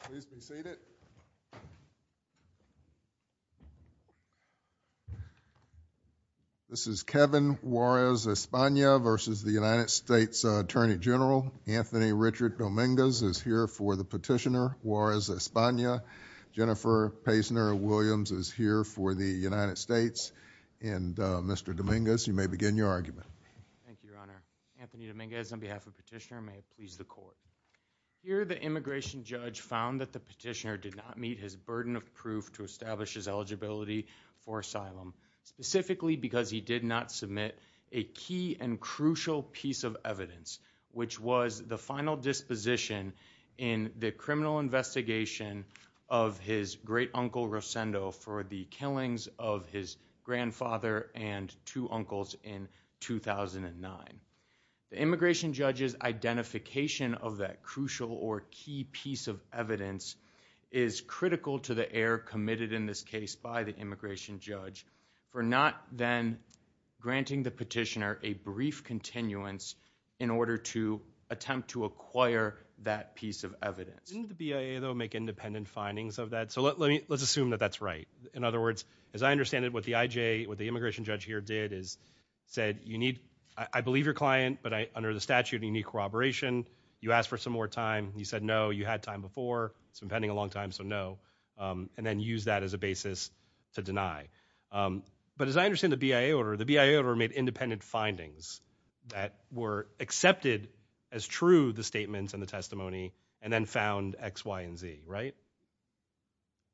Anthony Richard Dominguez is here for the petitioner Juarez-Espana Jennifer Paisner Williams is here for the United States and Mr. Dominguez you may begin your argument. Thank you your honor. Anthony Dominguez on behalf of petitioner may please the court. Here the immigration judge found that the petitioner did not meet his burden of proof to establish his eligibility for asylum specifically because he did not submit a key and crucial piece of evidence which was the final disposition in the criminal investigation of his great uncle Rosendo for the killings of his grandfather and two uncles in 2009. The immigration judge's identification of that crucial or key piece of evidence is critical to the error committed in this case by the immigration judge for not then granting the petitioner a brief continuance in order to attempt to acquire that piece of evidence. Didn't the BIA though make independent findings of that so let me let's assume that that's right in other words as I your client but I under the statute of unique corroboration you asked for some more time you said no you had time before it's been pending a long time so no and then use that as a basis to deny but as I understand the BIA order the BIA order made independent findings that were accepted as true the statements and the testimony and then found x y and z right?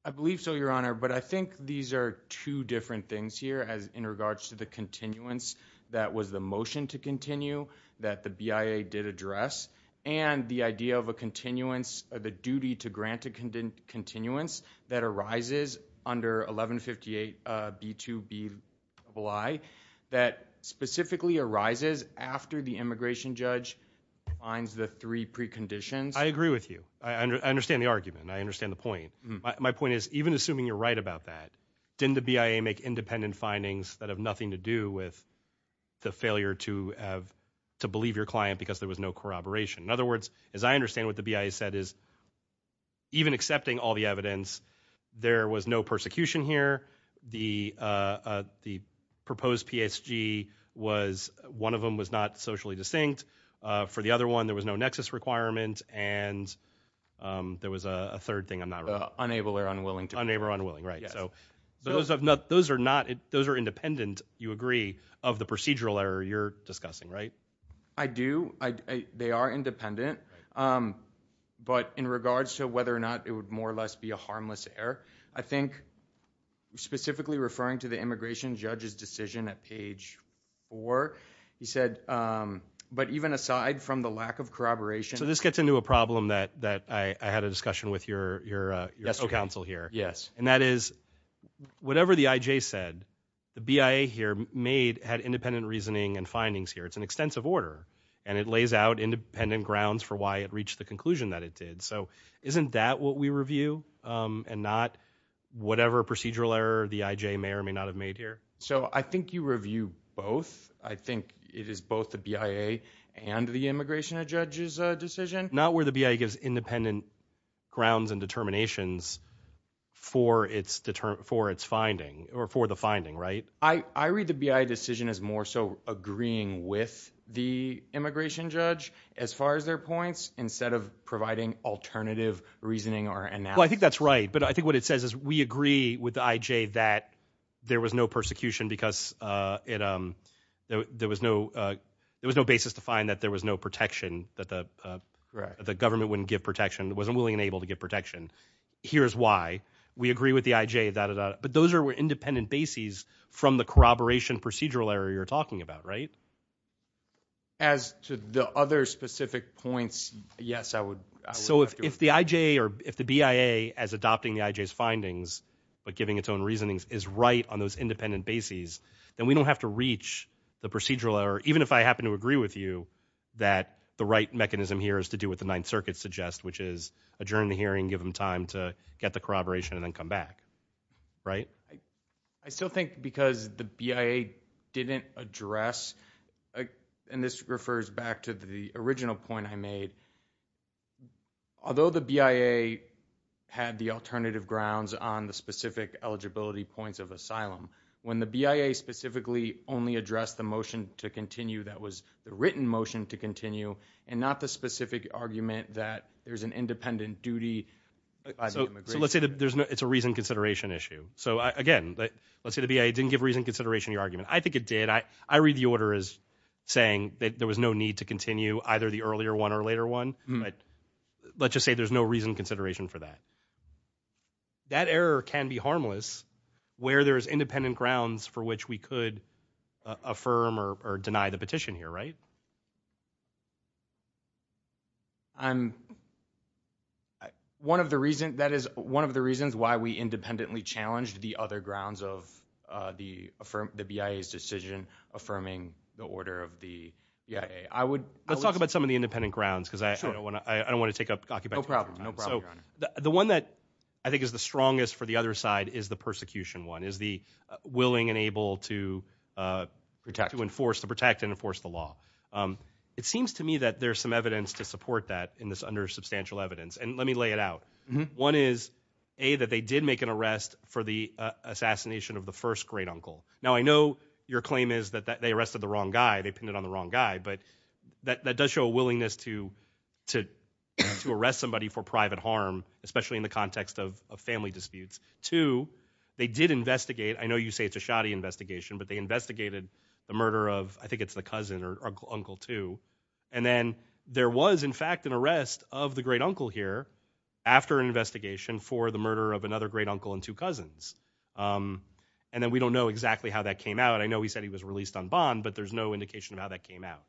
I believe so your honor but I think these are two different things here as in regards to the brief continue that the BIA did address and the idea of a continuance of the duty to grant a continuance that arises under 1158 B2B that specifically arises after the immigration judge finds the three preconditions. I agree with you I understand the argument I understand the point my point is even assuming you're right about that didn't the BIA make independent findings that have nothing to do with the failure to have to believe your client because there was no corroboration in other words as I understand what the BIA said is even accepting all the evidence there was no persecution here the the proposed PSG was one of them was not socially distinct for the other one there was no nexus requirement and there was a third thing I'm not unable or unwilling to unable or unwilling right so those have not those are not those are independent you agree of the procedural error you're discussing right? I do I they are independent but in regards to whether or not it would more or less be a harmless error I think specifically referring to the immigration judge's decision at page four he said but even aside from the lack of corroboration so this gets into a problem that that I had a discussion with your counsel here yes and that is whatever the IJ said the BIA here made had independent reasoning and findings here it's an extensive order and it lays out independent grounds for why it reached the conclusion that it did so isn't that what we review and not whatever procedural error the IJ may or may not have made here so I think you review both I think it is both the BIA and the immigration judge's decision not where the BIA gives independent grounds and determinations for its determined for its finding or for the finding right I I read the BIA decision as more so agreeing with the immigration judge as far as their points instead of providing alternative reasoning or analysis I think that's right but I think what it says is we find that there was no protection that the the government wouldn't give protection wasn't willing and able to give protection here's why we agree with the IJ that but those are independent bases from the corroboration procedural error you're talking about right as to the other specific points yes I would so if if the IJ or if the BIA as adopting the IJ's findings but giving its own reasonings is right on those independent bases then we don't have to reach the procedural error even if I happen to agree with you that the right mechanism here is to do what the Ninth Circuit suggests which is adjourn the hearing give them time to get the corroboration and then come back right I still think because the BIA didn't address and this refers back to the original point I made although the BIA had the alternative grounds on the specific eligibility points of asylum when the BIA specifically only addressed the motion to continue that was the written motion to continue and not the specific argument that there's an independent duty so let's say that there's no it's a reason consideration issue so again let's say the BIA didn't give reason consideration your argument I think it did I I read the order as saying that there was no need to continue either the earlier one or later one but let's just say there's no reason consideration for that that error can be harmless where there's independent grounds for which we could affirm or deny the petition here right I'm one of the reason that is one of the reasons why we independently challenged the other grounds of the affirm the BIA's decision affirming the order of the BIA I would let's talk about some independent grounds because I don't want to I don't want to take up the one that I think is the strongest for the other side is the persecution one is the willing and able to protect to enforce to protect and enforce the law it seems to me that there's some evidence to support that in this under substantial evidence and let me lay it out one is a that they did make an arrest for the assassination of the first great uncle now I know your claim is that they arrested the wrong guy they pinned it on the wrong guy but that does show a willingness to to to arrest somebody for private harm especially in the context of family disputes to they did investigate I know you say it's a shoddy investigation but they investigated the murder of I think it's the cousin or uncle two and then there was in fact an arrest of the great uncle here after an investigation for the murder of another great uncle and two cousins and then we don't know exactly how that came out I know he said he was released on bond but there's no indication of how that came out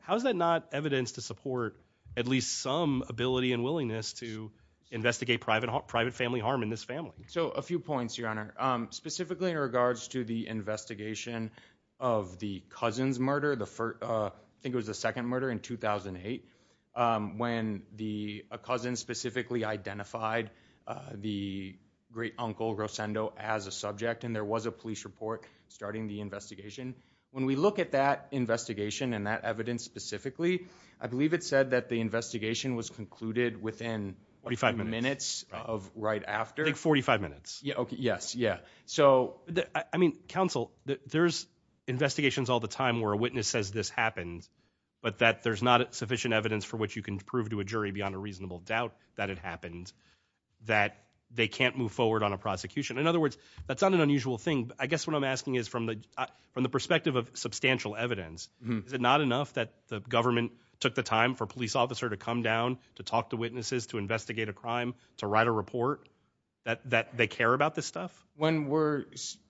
how is that not evidence to support at least some ability and willingness to investigate private private family harm in this family so a few points your honor specifically in regards to the investigation of the cousin's murder the first I think it was the second murder in 2008 when the cousin specifically identified the great uncle Rosendo as a subject and there was a police report starting the investigation when we look at that investigation and that evidence specifically I believe it said that the investigation was concluded within 45 minutes of right after like 45 minutes yeah okay yes yeah so I mean counsel there's investigations all the time where a witness says this happened but that there's not sufficient evidence for which you can prove to a jury beyond a reasonable doubt that it happened that they can't move forward on a prosecution in other words that's not an unusual thing I guess what I'm asking is from the from the perspective of substantial evidence is it not enough that the government took the time for a police officer to come down to talk to witnesses to investigate a crime to write a report that that they care about this stuff when we're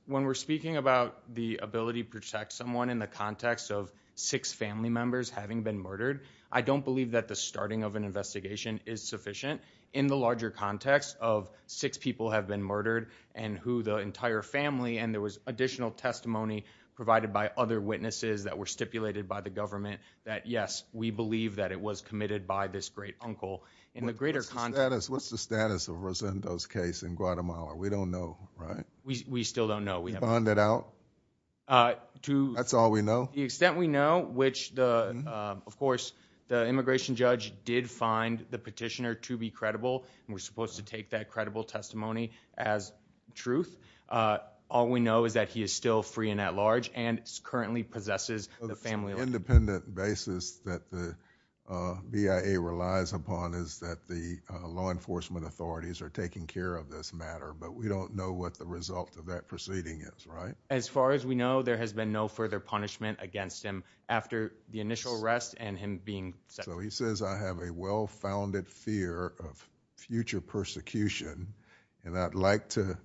when we're speaking about the ability to protect someone in the context of six family members having been murdered I don't believe that the starting of and who the entire family and there was additional testimony provided by other witnesses that were stipulated by the government that yes we believe that it was committed by this great uncle in the greater context what's the status of Rosendo's case in Guatemala we don't know right we we still don't know we found it out uh to that's all we know the extent we know which the of course the immigration judge did find the petitioner to be credible and we're supposed to take that credible testimony as truth all we know is that he is still free and at large and currently possesses the family independent basis that the BIA relies upon is that the law enforcement authorities are taking care of this matter but we don't know what the result of that proceeding is right as far as we know there has been no further punishment against him after the initial arrest and him being so he says I have a well-founded fear of future persecution and I'd like to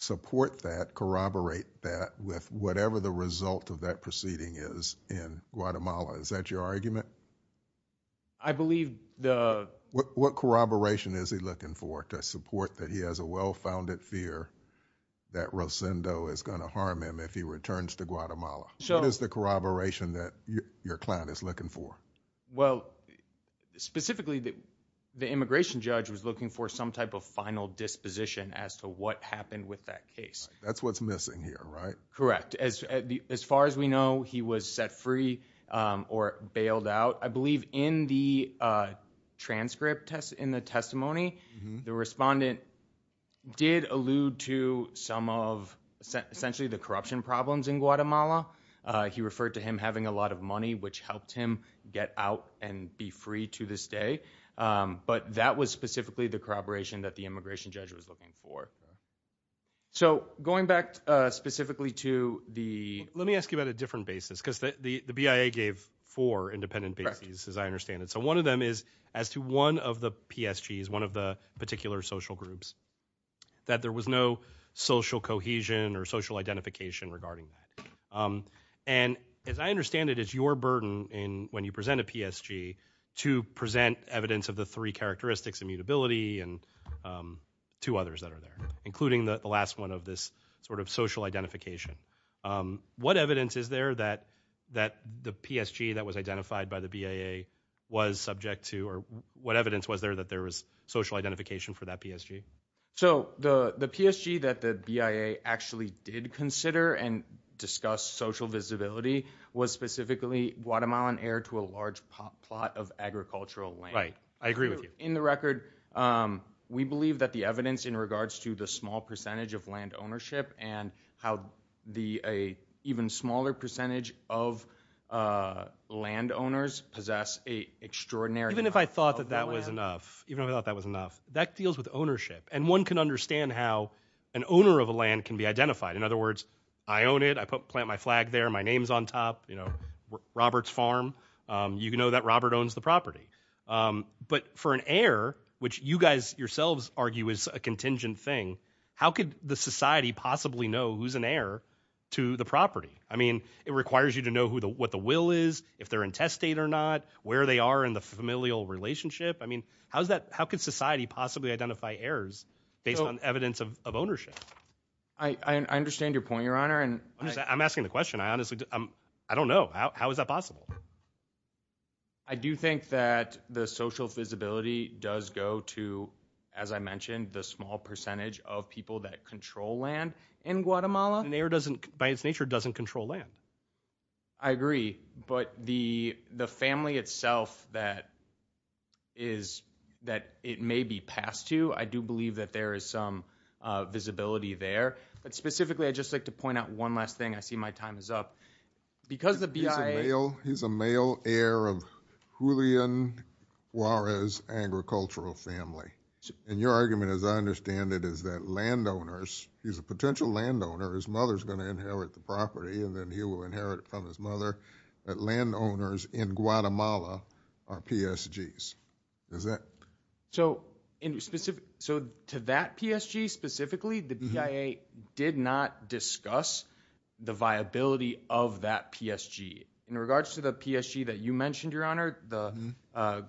support that corroborate that with whatever the result of that proceeding is in Guatemala is that your argument I believe the what corroboration is he looking for to support that he has a well-founded fear that Rosendo is going to harm him if he returns to Guatemala so what is the corroboration that your client is looking for well specifically that the immigration judge was looking for some type of final disposition as to what happened with that case that's what's missing here right correct as as far as we know he was set free um or bailed out I believe in the uh transcript test in the testimony the respondent did allude to some of essentially the corruption problems in Guatemala he referred to him having a lot of money which helped him get out and be free to this day but that was specifically the corroboration that the immigration judge was looking for so going back uh specifically to the let me ask you about a different basis because the the BIA gave four independent bases as I understand it so one of them is as to one of the PSGs one of the particular social groups that there was no social cohesion or social identification regarding that um and as I understand it is your burden in when you present a PSG to present evidence of the three characteristics immutability and um two others that are there including the last one of this sort of social identification um what evidence is there that that the PSG that was identified by the BIA was subject to or what evidence was there that there was social identification for that PSG so the the PSG that the BIA actually did consider and discuss social visibility was specifically Guatemalan heir to a large plot of agricultural land right I agree with you in the record um we believe that the evidence in regards to the small percentage of land ownership and how the a even smaller percentage of uh land owners possess a even if I thought that that was enough even if I thought that was enough that deals with ownership and one can understand how an owner of a land can be identified in other words I own it I put plant my flag there my name's on top you know Robert's farm um you know that Robert owns the property um but for an heir which you guys yourselves argue is a contingent thing how could the society possibly know who's an heir to the property I mean it requires you to know who the what the will is if they're in test state or not where they are in the familial relationship I mean how's that how could society possibly identify heirs based on evidence of ownership I I understand your point your honor and I'm asking the question I honestly I'm I don't know how is that possible I do think that the social visibility does go to as I mentioned the small percentage of people that control land I agree but the the family itself that is that it may be passed to I do believe that there is some uh visibility there but specifically I'd just like to point out one last thing I see my time is up because the BIA he's a male heir of Julian Juarez agricultural family and your argument as I understand it is that landowners he's a potential landowner his mother's going to inherit the property and then he will inherit from his mother that landowners in Guatemala are PSGs is that so in specific so to that PSG specifically the BIA did not discuss the viability of that PSG in regards to the PSG that you mentioned your honor the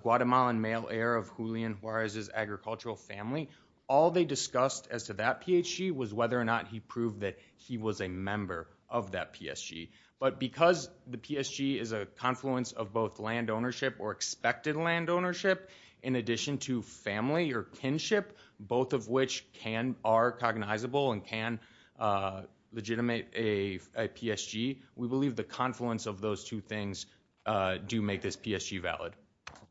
Guatemalan male heir of Julian Juarez's agricultural family all they discussed as to that PSG was whether or not he proved that he was a member of that PSG but because the PSG is a confluence of both land ownership or expected land ownership in addition to family or kinship both of which can are cognizable and can uh legitimate a PSG we believe the confluence of those two things uh do make this PSG valid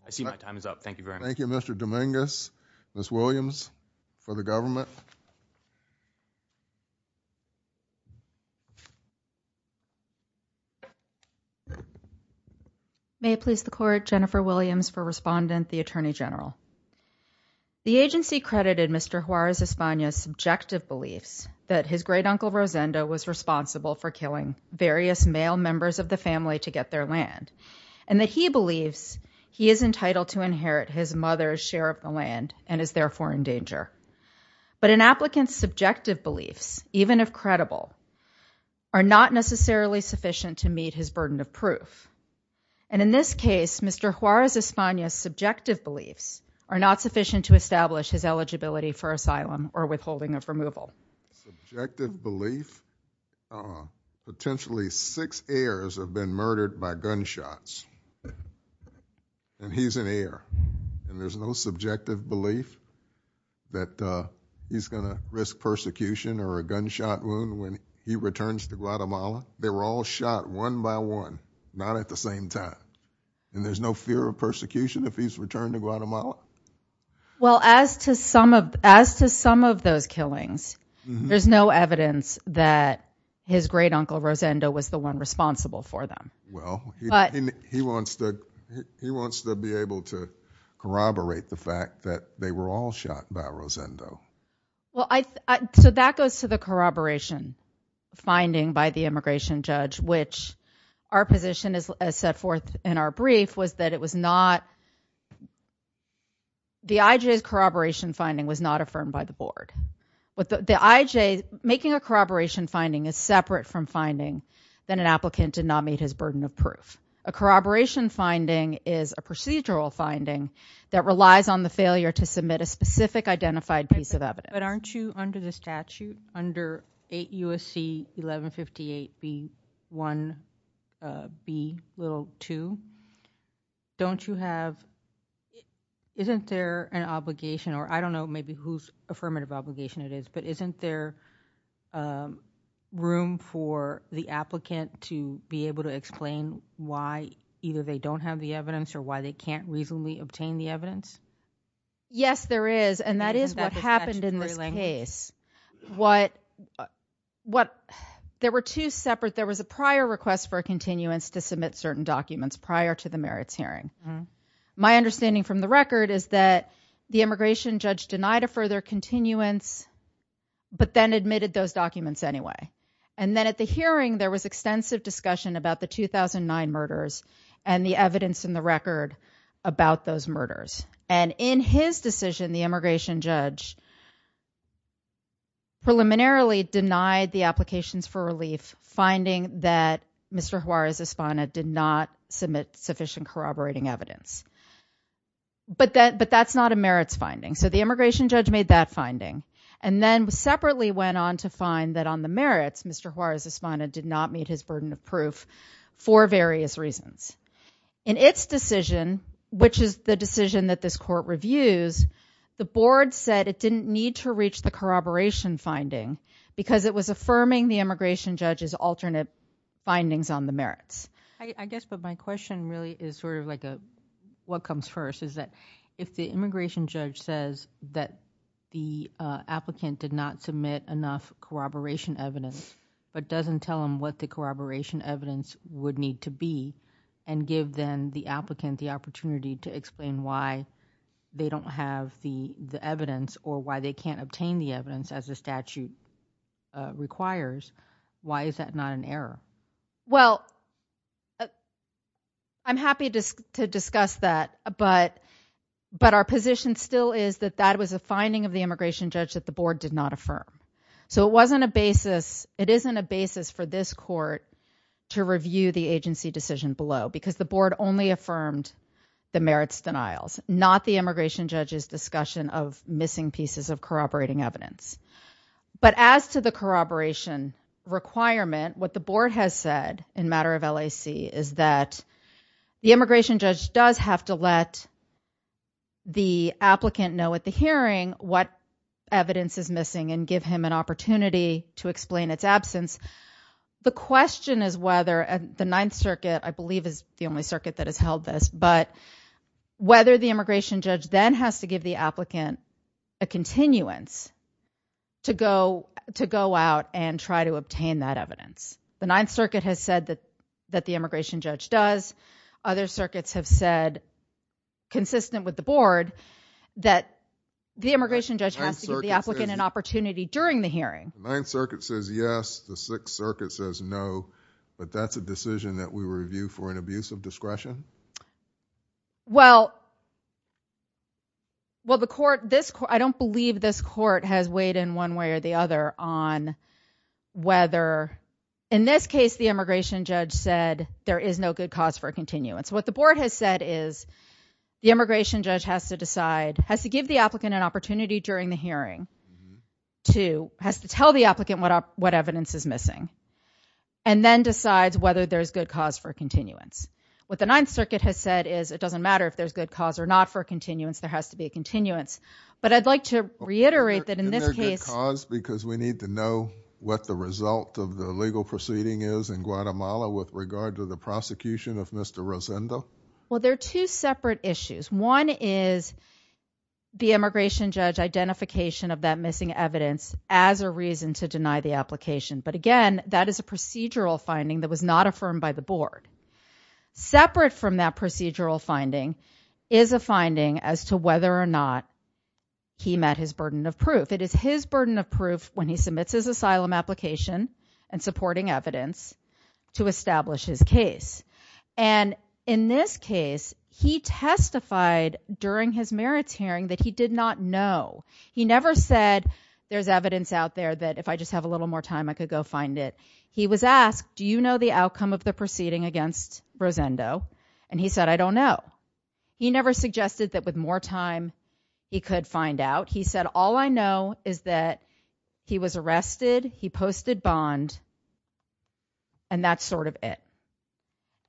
I see my time is up thank you very much thank you may I please the court Jennifer Williams for respondent the attorney general the agency credited Mr. Juarez Espana's subjective beliefs that his great uncle Rosendo was responsible for killing various male members of the family to get their land and that he believes he is entitled to subjective beliefs even if credible are not necessarily sufficient to meet his burden of proof and in this case Mr. Juarez Espana's subjective beliefs are not sufficient to establish his eligibility for asylum or withholding of removal subjective belief potentially six heirs have been murdered by gunshots and he's an heir and there's no subjective belief that uh he's gonna risk persecution or a gunshot wound when he returns to Guatemala they were all shot one by one not at the same time and there's no fear of persecution if he's returned to Guatemala well as to some of as to some of those killings there's no evidence that his great uncle Rosendo was the one responsible for them well he wants to he wants to be able to corroborate the fact that they were all shot by Rosendo well I so that goes to the corroboration finding by the immigration judge which our position is set forth in our brief was that it was not the IJ's corroboration finding was not affirmed by the board with the IJ making a corroboration finding is separate from finding that an applicant did not meet his burden of proof a corroboration finding is a procedural finding that relies on the failure to submit a specific identified piece of evidence but aren't you under the statute under 8 USC 1158 b 1 b little 2 don't you have isn't there an obligation or I don't know maybe who's obligation it is but isn't there room for the applicant to be able to explain why either they don't have the evidence or why they can't reasonably obtain the evidence yes there is and that is what happened in this case what what there were two separate there was a prior request for a continuance to submit certain documents prior to the merits hearing my understanding from the record is that the immigration judge denied a further continuance but then admitted those documents anyway and then at the hearing there was extensive discussion about the 2009 murders and the evidence in the record about those murders and in his decision the immigration judge preliminarily denied the applications for relief finding that Mr. Juarez Espana did not sufficient corroborating evidence but that but that's not a merits finding so the immigration judge made that finding and then separately went on to find that on the merits Mr. Juarez Espana did not meet his burden of proof for various reasons in its decision which is the decision that this court reviews the board said it didn't need to reach the corroboration finding because it was affirming the immigration judge's alternate findings on the merits I guess but my question really is sort of like a what comes first is that if the immigration judge says that the applicant did not submit enough corroboration evidence but doesn't tell them what the corroboration evidence would need to be and give them the applicant the opportunity to explain why they don't have the the evidence or why they can't obtain the evidence as a statute requires why is that not an error well I'm happy just to discuss that but but our position still is that that was a finding of the immigration judge that the board did not affirm so it wasn't a basis it isn't a basis for this court to review the agency decision below because the board only affirmed the merits denials not the immigration judge's discussion of missing pieces of corroboration requirement what the board has said in matter of LAC is that the immigration judge does have to let the applicant know at the hearing what evidence is missing and give him an opportunity to explain its absence the question is whether the ninth circuit I believe is the only circuit that has held this but whether the immigration judge then has to give the applicant a continuance to go to go out and try to obtain that evidence the ninth circuit has said that that the immigration judge does other circuits have said consistent with the board that the immigration judge has to give the applicant an opportunity during the hearing ninth circuit says yes the sixth circuit says no but that's a decision that we review for an abuse of discretion well well the court this I don't believe this court has weighed in one way or the other on whether in this case the immigration judge said there is no good cause for continuance what the board has said is the immigration judge has to decide has to give the applicant an opportunity during the hearing to has to tell the applicant what what evidence is missing and then decides whether there's good cause for continuance what the ninth circuit has said is it doesn't matter if there's good cause or not for continuance there has to be a continuance but I'd like to reiterate that in this case because we need to know what the result of the legal proceeding is in Guatemala with regard to the prosecution of Mr. Rosendo well there are two separate issues one is the immigration judge identification of that missing evidence as a reason to deny the application but again that is a procedural finding that was not affirmed by the board separate from that procedural finding is a finding as to whether or not he met his burden of proof it is his burden of proof when he submits his asylum application and supporting evidence to establish his case and in this case he testified during his merits hearing that he did not know he never said there's evidence out there that if I just have a little more time I could go find it he was asked do you know the outcome of the proceeding against Rosendo and he said I don't know he never suggested that with more time he could find out he said all I know is that he was arrested he posted bond and that's sort of it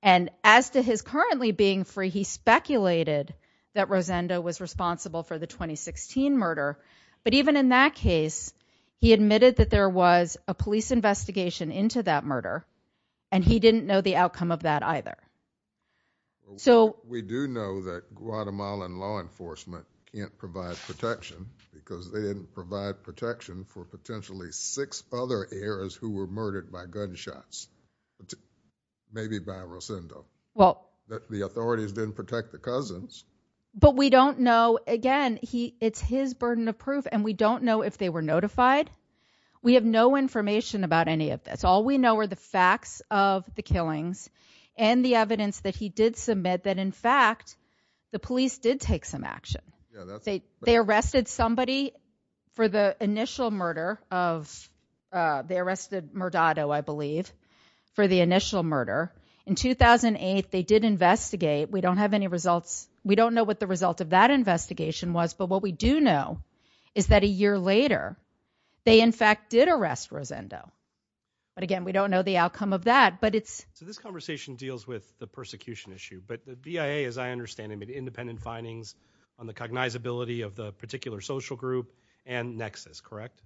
and as to his currently being free he speculated that Rosendo was responsible for the 2016 murder but even in that case he admitted that there was a police investigation into that murder and he didn't know the outcome of that either so we do know that Guatemalan law enforcement can't provide protection because they didn't provide protection for potentially six other heirs who were murdered by gunshots maybe by Rosendo well the authorities didn't protect the cousins but we don't know again he it's his burden of proof and we don't know if they were notified we have no information about any of this all we know are the facts of the killings and the evidence that he did submit that in fact the police did take some action they arrested somebody for the initial murder of they arrested Murdado I believe for the initial murder in 2008 they did investigate we don't have any results we don't know what the result of that investigation was but what we do know is that a year later they in fact did arrest Rosendo but again we don't know the outcome of that but it's so this conversation deals with the persecution issue but the BIA as I understand it made independent findings on the cognizability of the particular social group and nexus correct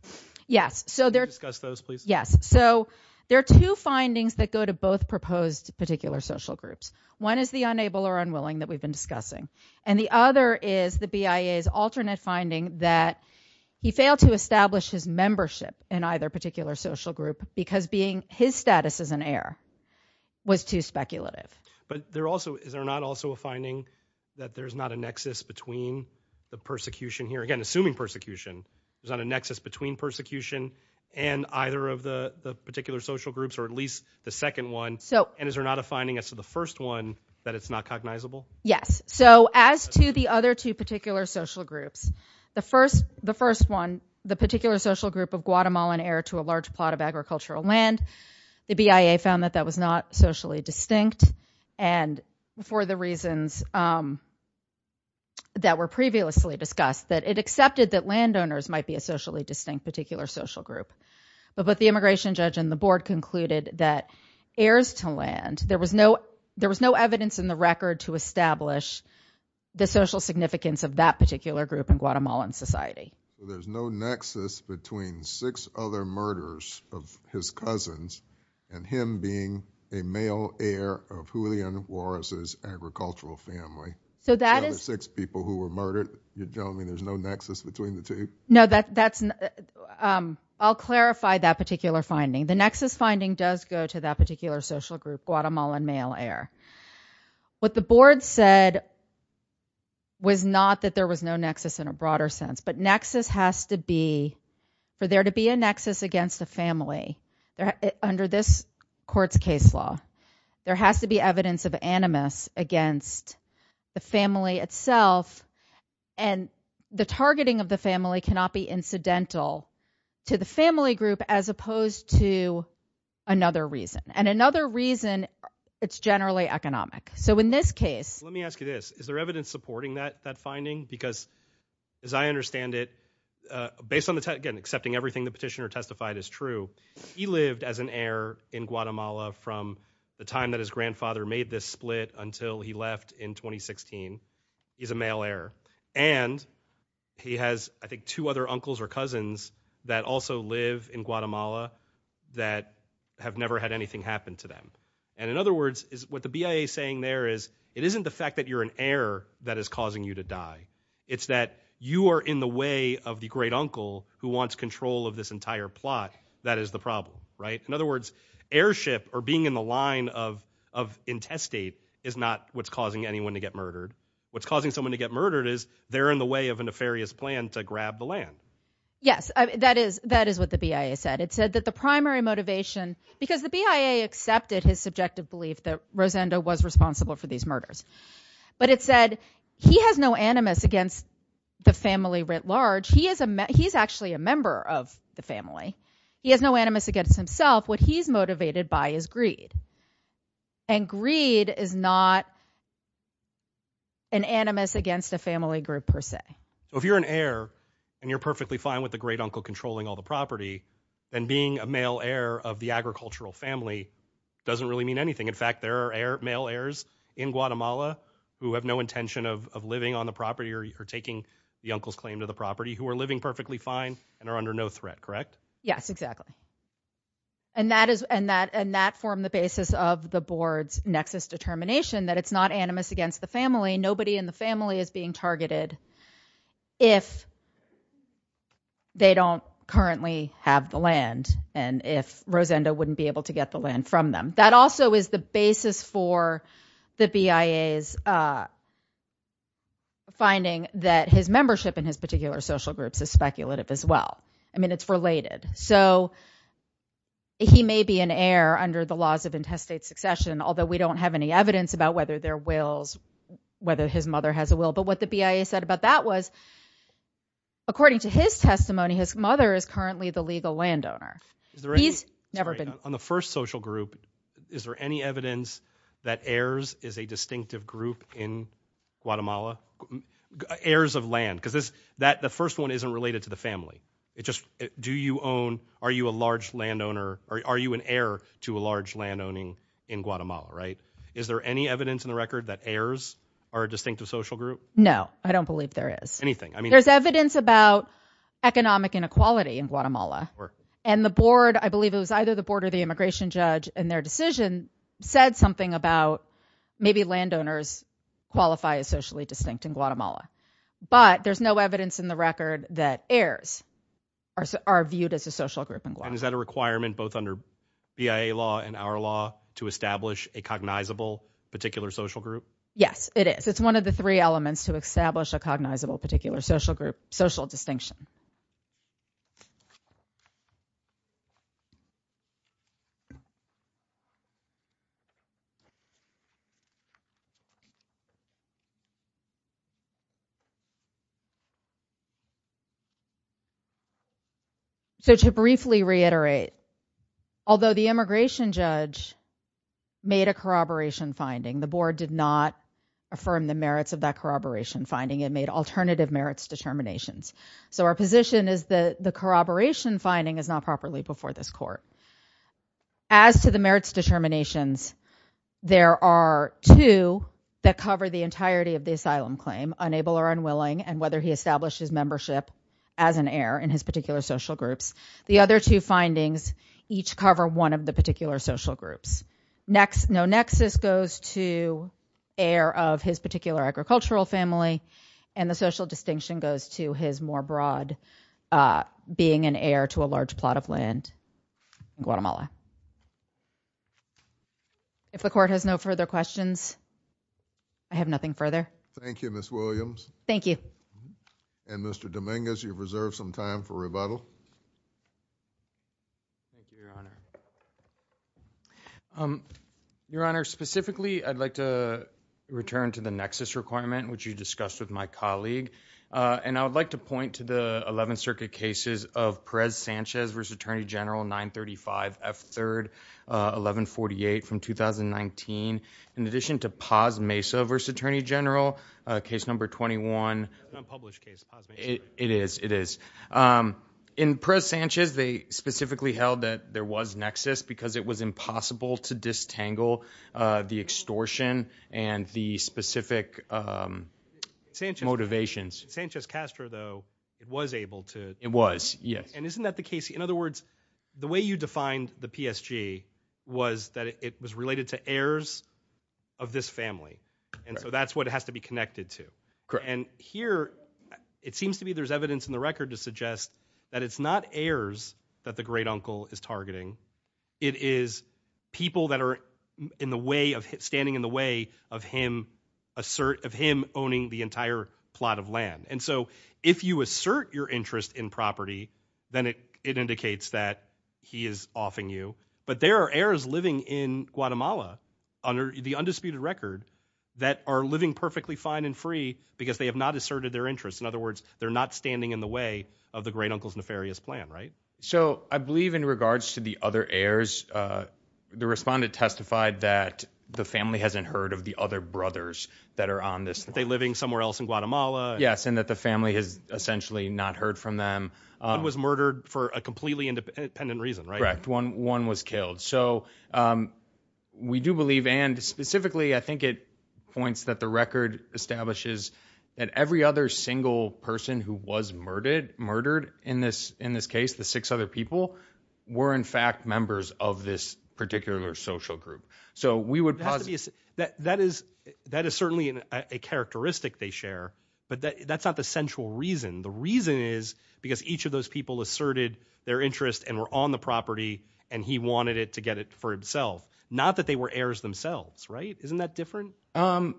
yes so there discuss those please yes so there are two findings that go to both proposed particular social groups one is the unable or unwilling that we've been discussing and the other is the BIA's alternate finding that he failed to establish his membership in either particular social group because being his status as an heir was too speculative but they're also is there not also a finding that there's not a nexus between the persecution here again assuming persecution there's not a nexus between persecution and either of the the particular social groups or at least the second one so and is there not a finding as to the first one that it's not cognizable yes so as to the other two particular social groups the first the first one the particular social group of Guatemalan heir to a large plot of agricultural land the BIA found that that was not socially distinct and for the reasons that were previously discussed that it accepted that landowners might be a socially distinct particular social group but the immigration judge and the heirs to land there was no there was no evidence in the record to establish the social significance of that particular group in Guatemalan society there's no nexus between six other murders of his cousins and him being a male heir of Julian Juarez's agricultural family so that is six people who were murdered you don't mean there's no nexus between the two no that that's um I'll clarify that particular finding the nexus finding does go to that particular social group Guatemalan male heir what the board said was not that there was no nexus in a broader sense but nexus has to be for there to be a nexus against a family under this court's case law there has to be evidence of animus against the family itself and the targeting of the family cannot be incidental to the family group as opposed to another reason and another reason it's generally economic so in this case let me ask you this is there evidence supporting that that finding because as I understand it uh based on the tech again accepting everything the petitioner testified is true he lived as an heir in Guatemala from the time that his grandfather made this split until he left in 2016 he's a male heir and he has I think two other uncles or cousins that also live in Guatemala that have never had anything happen to them and in other words is what the BIA saying there is it isn't the fact that you're an heir that is causing you to die it's that you are in the way of the great uncle who wants control of this entire plot that is the problem right in other words airship or being in the line of of intestate is not what's causing anyone to get murdered what's causing someone to get murdered is they're in the way of a nefarious plan to grab the land yes that is that is what the BIA said it said that the primary motivation because the BIA accepted his subjective belief that Rosendo was responsible for these murders but it said he has no animus against the family writ large he is a he's actually a member of the family he has no animus against himself what he's motivated by is greed and greed is not an animus against a family group per se so if you're an heir and you're perfectly fine with the great uncle controlling all the property then being a male heir of the agricultural family doesn't really mean anything in fact there are male heirs in Guatemala who have no intention of living on the property or taking the uncle's claim to the property who are living perfectly fine and are under no threat correct yes exactly and that is and that and that form the basis of the board's nexus determination that it's not animus against the family nobody in the family is being targeted if they don't currently have the land and if Rosendo wouldn't be able to get the land from them that also is the basis for the BIA's uh finding that his membership in his particular social groups is speculative as well i mean it's related so he may be an heir under the laws of intestate succession although we don't have any evidence about whether their wills whether his mother has a will but what the BIA said about that was according to his testimony his mother is currently the legal that heirs is a distinctive group in Guatemala heirs of land because this that the first one isn't related to the family it just do you own are you a large landowner or are you an heir to a large landowning in Guatemala right is there any evidence in the record that heirs are a distinctive social group no i don't believe there is anything i mean there's evidence about economic inequality in Guatemala and the board i believe it was either the board or the immigration judge and their decision said something about maybe landowners qualify as socially distinct in Guatemala but there's no evidence in the record that heirs are are viewed as a social group and is that a requirement both under BIA law and our law to establish a cognizable particular social group yes it is it's one of the three elements to establish a cognizable particular social group social distinction so to briefly reiterate although the immigration judge made a corroboration finding the board did affirm the merits of that corroboration finding it made alternative merits determinations so our position is that the corroboration finding is not properly before this court as to the merits determinations there are two that cover the entirety of the asylum claim unable or unwilling and whether he established his membership as an heir in his particular social groups the other two findings each cover one of the particular social groups next no nexus goes to heir of his particular agricultural family and the social distinction goes to his more broad uh being an heir to a large plot of land in Guatemala if the court has no further questions i have nothing further thank you miss williams thank you and mr dominguez you've reserved some time for rebuttal thank you your honor um your honor specifically i'd like to return to the nexus requirement which you discussed with my colleague uh and i would like to point to the 11th circuit cases of perez sanchez versus attorney general 935 f third uh 1148 from 2019 in addition to pos mesa versus attorney general uh case number 21 unpublished case it is it is um in pres sanchez they specifically held that there was nexus because it was impossible to distangle uh the extortion and the specific um sanctions motivations sanchez castro though it was able to it was yes and isn't that the case in other words the way you defined the psg was that it was related to heirs of this family and so that's what it has to be connected to and here it seems to be there's evidence in the record to suggest that it's not heirs that the great uncle is targeting it is people that are in the way of standing in the way of him assert of him owning the entire plot of land and so if you assert your interest in property then it it indicates that he is offing you but there are heirs living in guatemala under the undisputed record that are living perfectly fine and free because they have not asserted their interests in other words they're not standing in the way of the great uncle's nefarious plan right so i believe in regards to the other heirs uh the respondent testified that the family hasn't heard of the other brothers that are on this they living somewhere else in guatemala yes and that the family has essentially not heard from one was murdered for a completely independent reason right one one was killed so um we do believe and specifically i think it points that the record establishes that every other single person who was murdered murdered in this in this case the six other people were in fact members of this particular social group so we would possibly that that is that is certainly a characteristic they share but that that's not the central reason the reason is because each of those people asserted their interest and were on the property and he wanted it to get it for himself not that they were heirs themselves right isn't that different um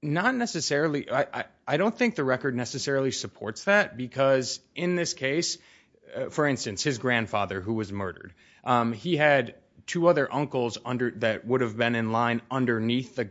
not necessarily i i don't think the record necessarily supports that because in this case for instance his grandfather who was murdered um he had two other uncles under that would have been in line underneath the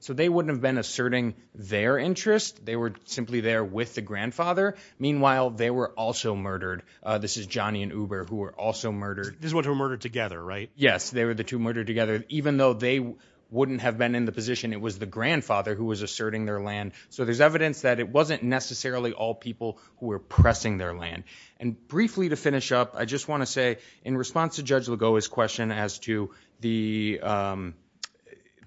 so they wouldn't have been asserting their interest they were simply there with the grandfather meanwhile they were also murdered uh this is johnny and uber who were also murdered this one who murdered together right yes they were the two murdered together even though they wouldn't have been in the position it was the grandfather who was asserting their land so there's evidence that it wasn't necessarily all people who were pressing their land and briefly to finish up i just want to say in response to judge lagoa's question as to the um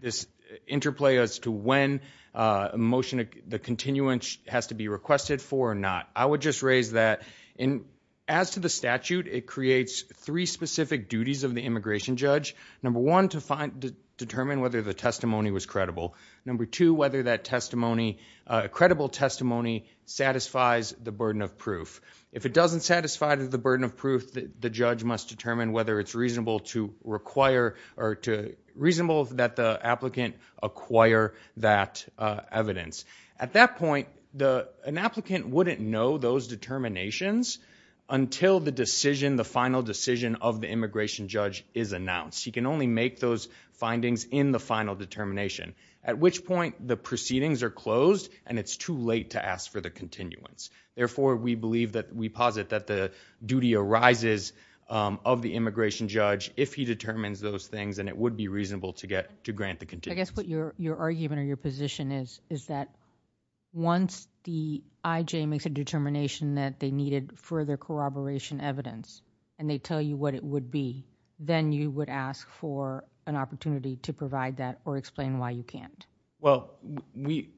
this interplay as to when a motion the continuance has to be requested for or not i would just raise that in as to the statute it creates three specific duties of the immigration judge number one to find determine whether the testimony was credible number two whether that testimony uh credible testimony satisfies the burden of proof if it doesn't satisfy the burden of proof the judge must determine whether it's reasonable to require or to reasonable that the applicant acquire that evidence at that point the an applicant wouldn't know those determinations until the decision the final decision of the immigration judge is announced he can only make those findings in the final determination at which point the proceedings are closed and it's too late to ask for the of the immigration judge if he determines those things and it would be reasonable to get to grant the continuous i guess what your your argument or your position is is that once the ij makes a determination that they needed further corroboration evidence and they tell you what it would be then you would ask for an opportunity to provide that or explain why you can't well we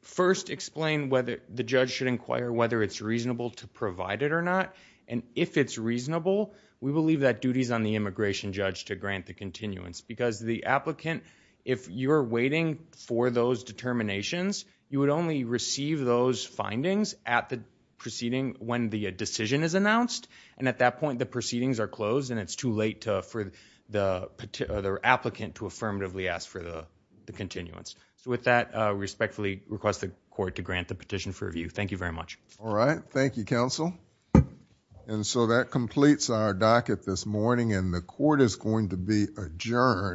first explain whether the judge should inquire whether it's reasonable to provide it or not and if it's reasonable we believe that duties on the immigration judge to grant the continuance because the applicant if you're waiting for those determinations you would only receive those findings at the proceeding when the decision is announced and at that point the proceedings are closed and it's too late to for the the applicant to affirmatively ask for the the continuance so with that uh respectfully request the court to grant the petition for review thank you very much all right thank you counsel and so that completes our docket this morning and the court is going to be adjourned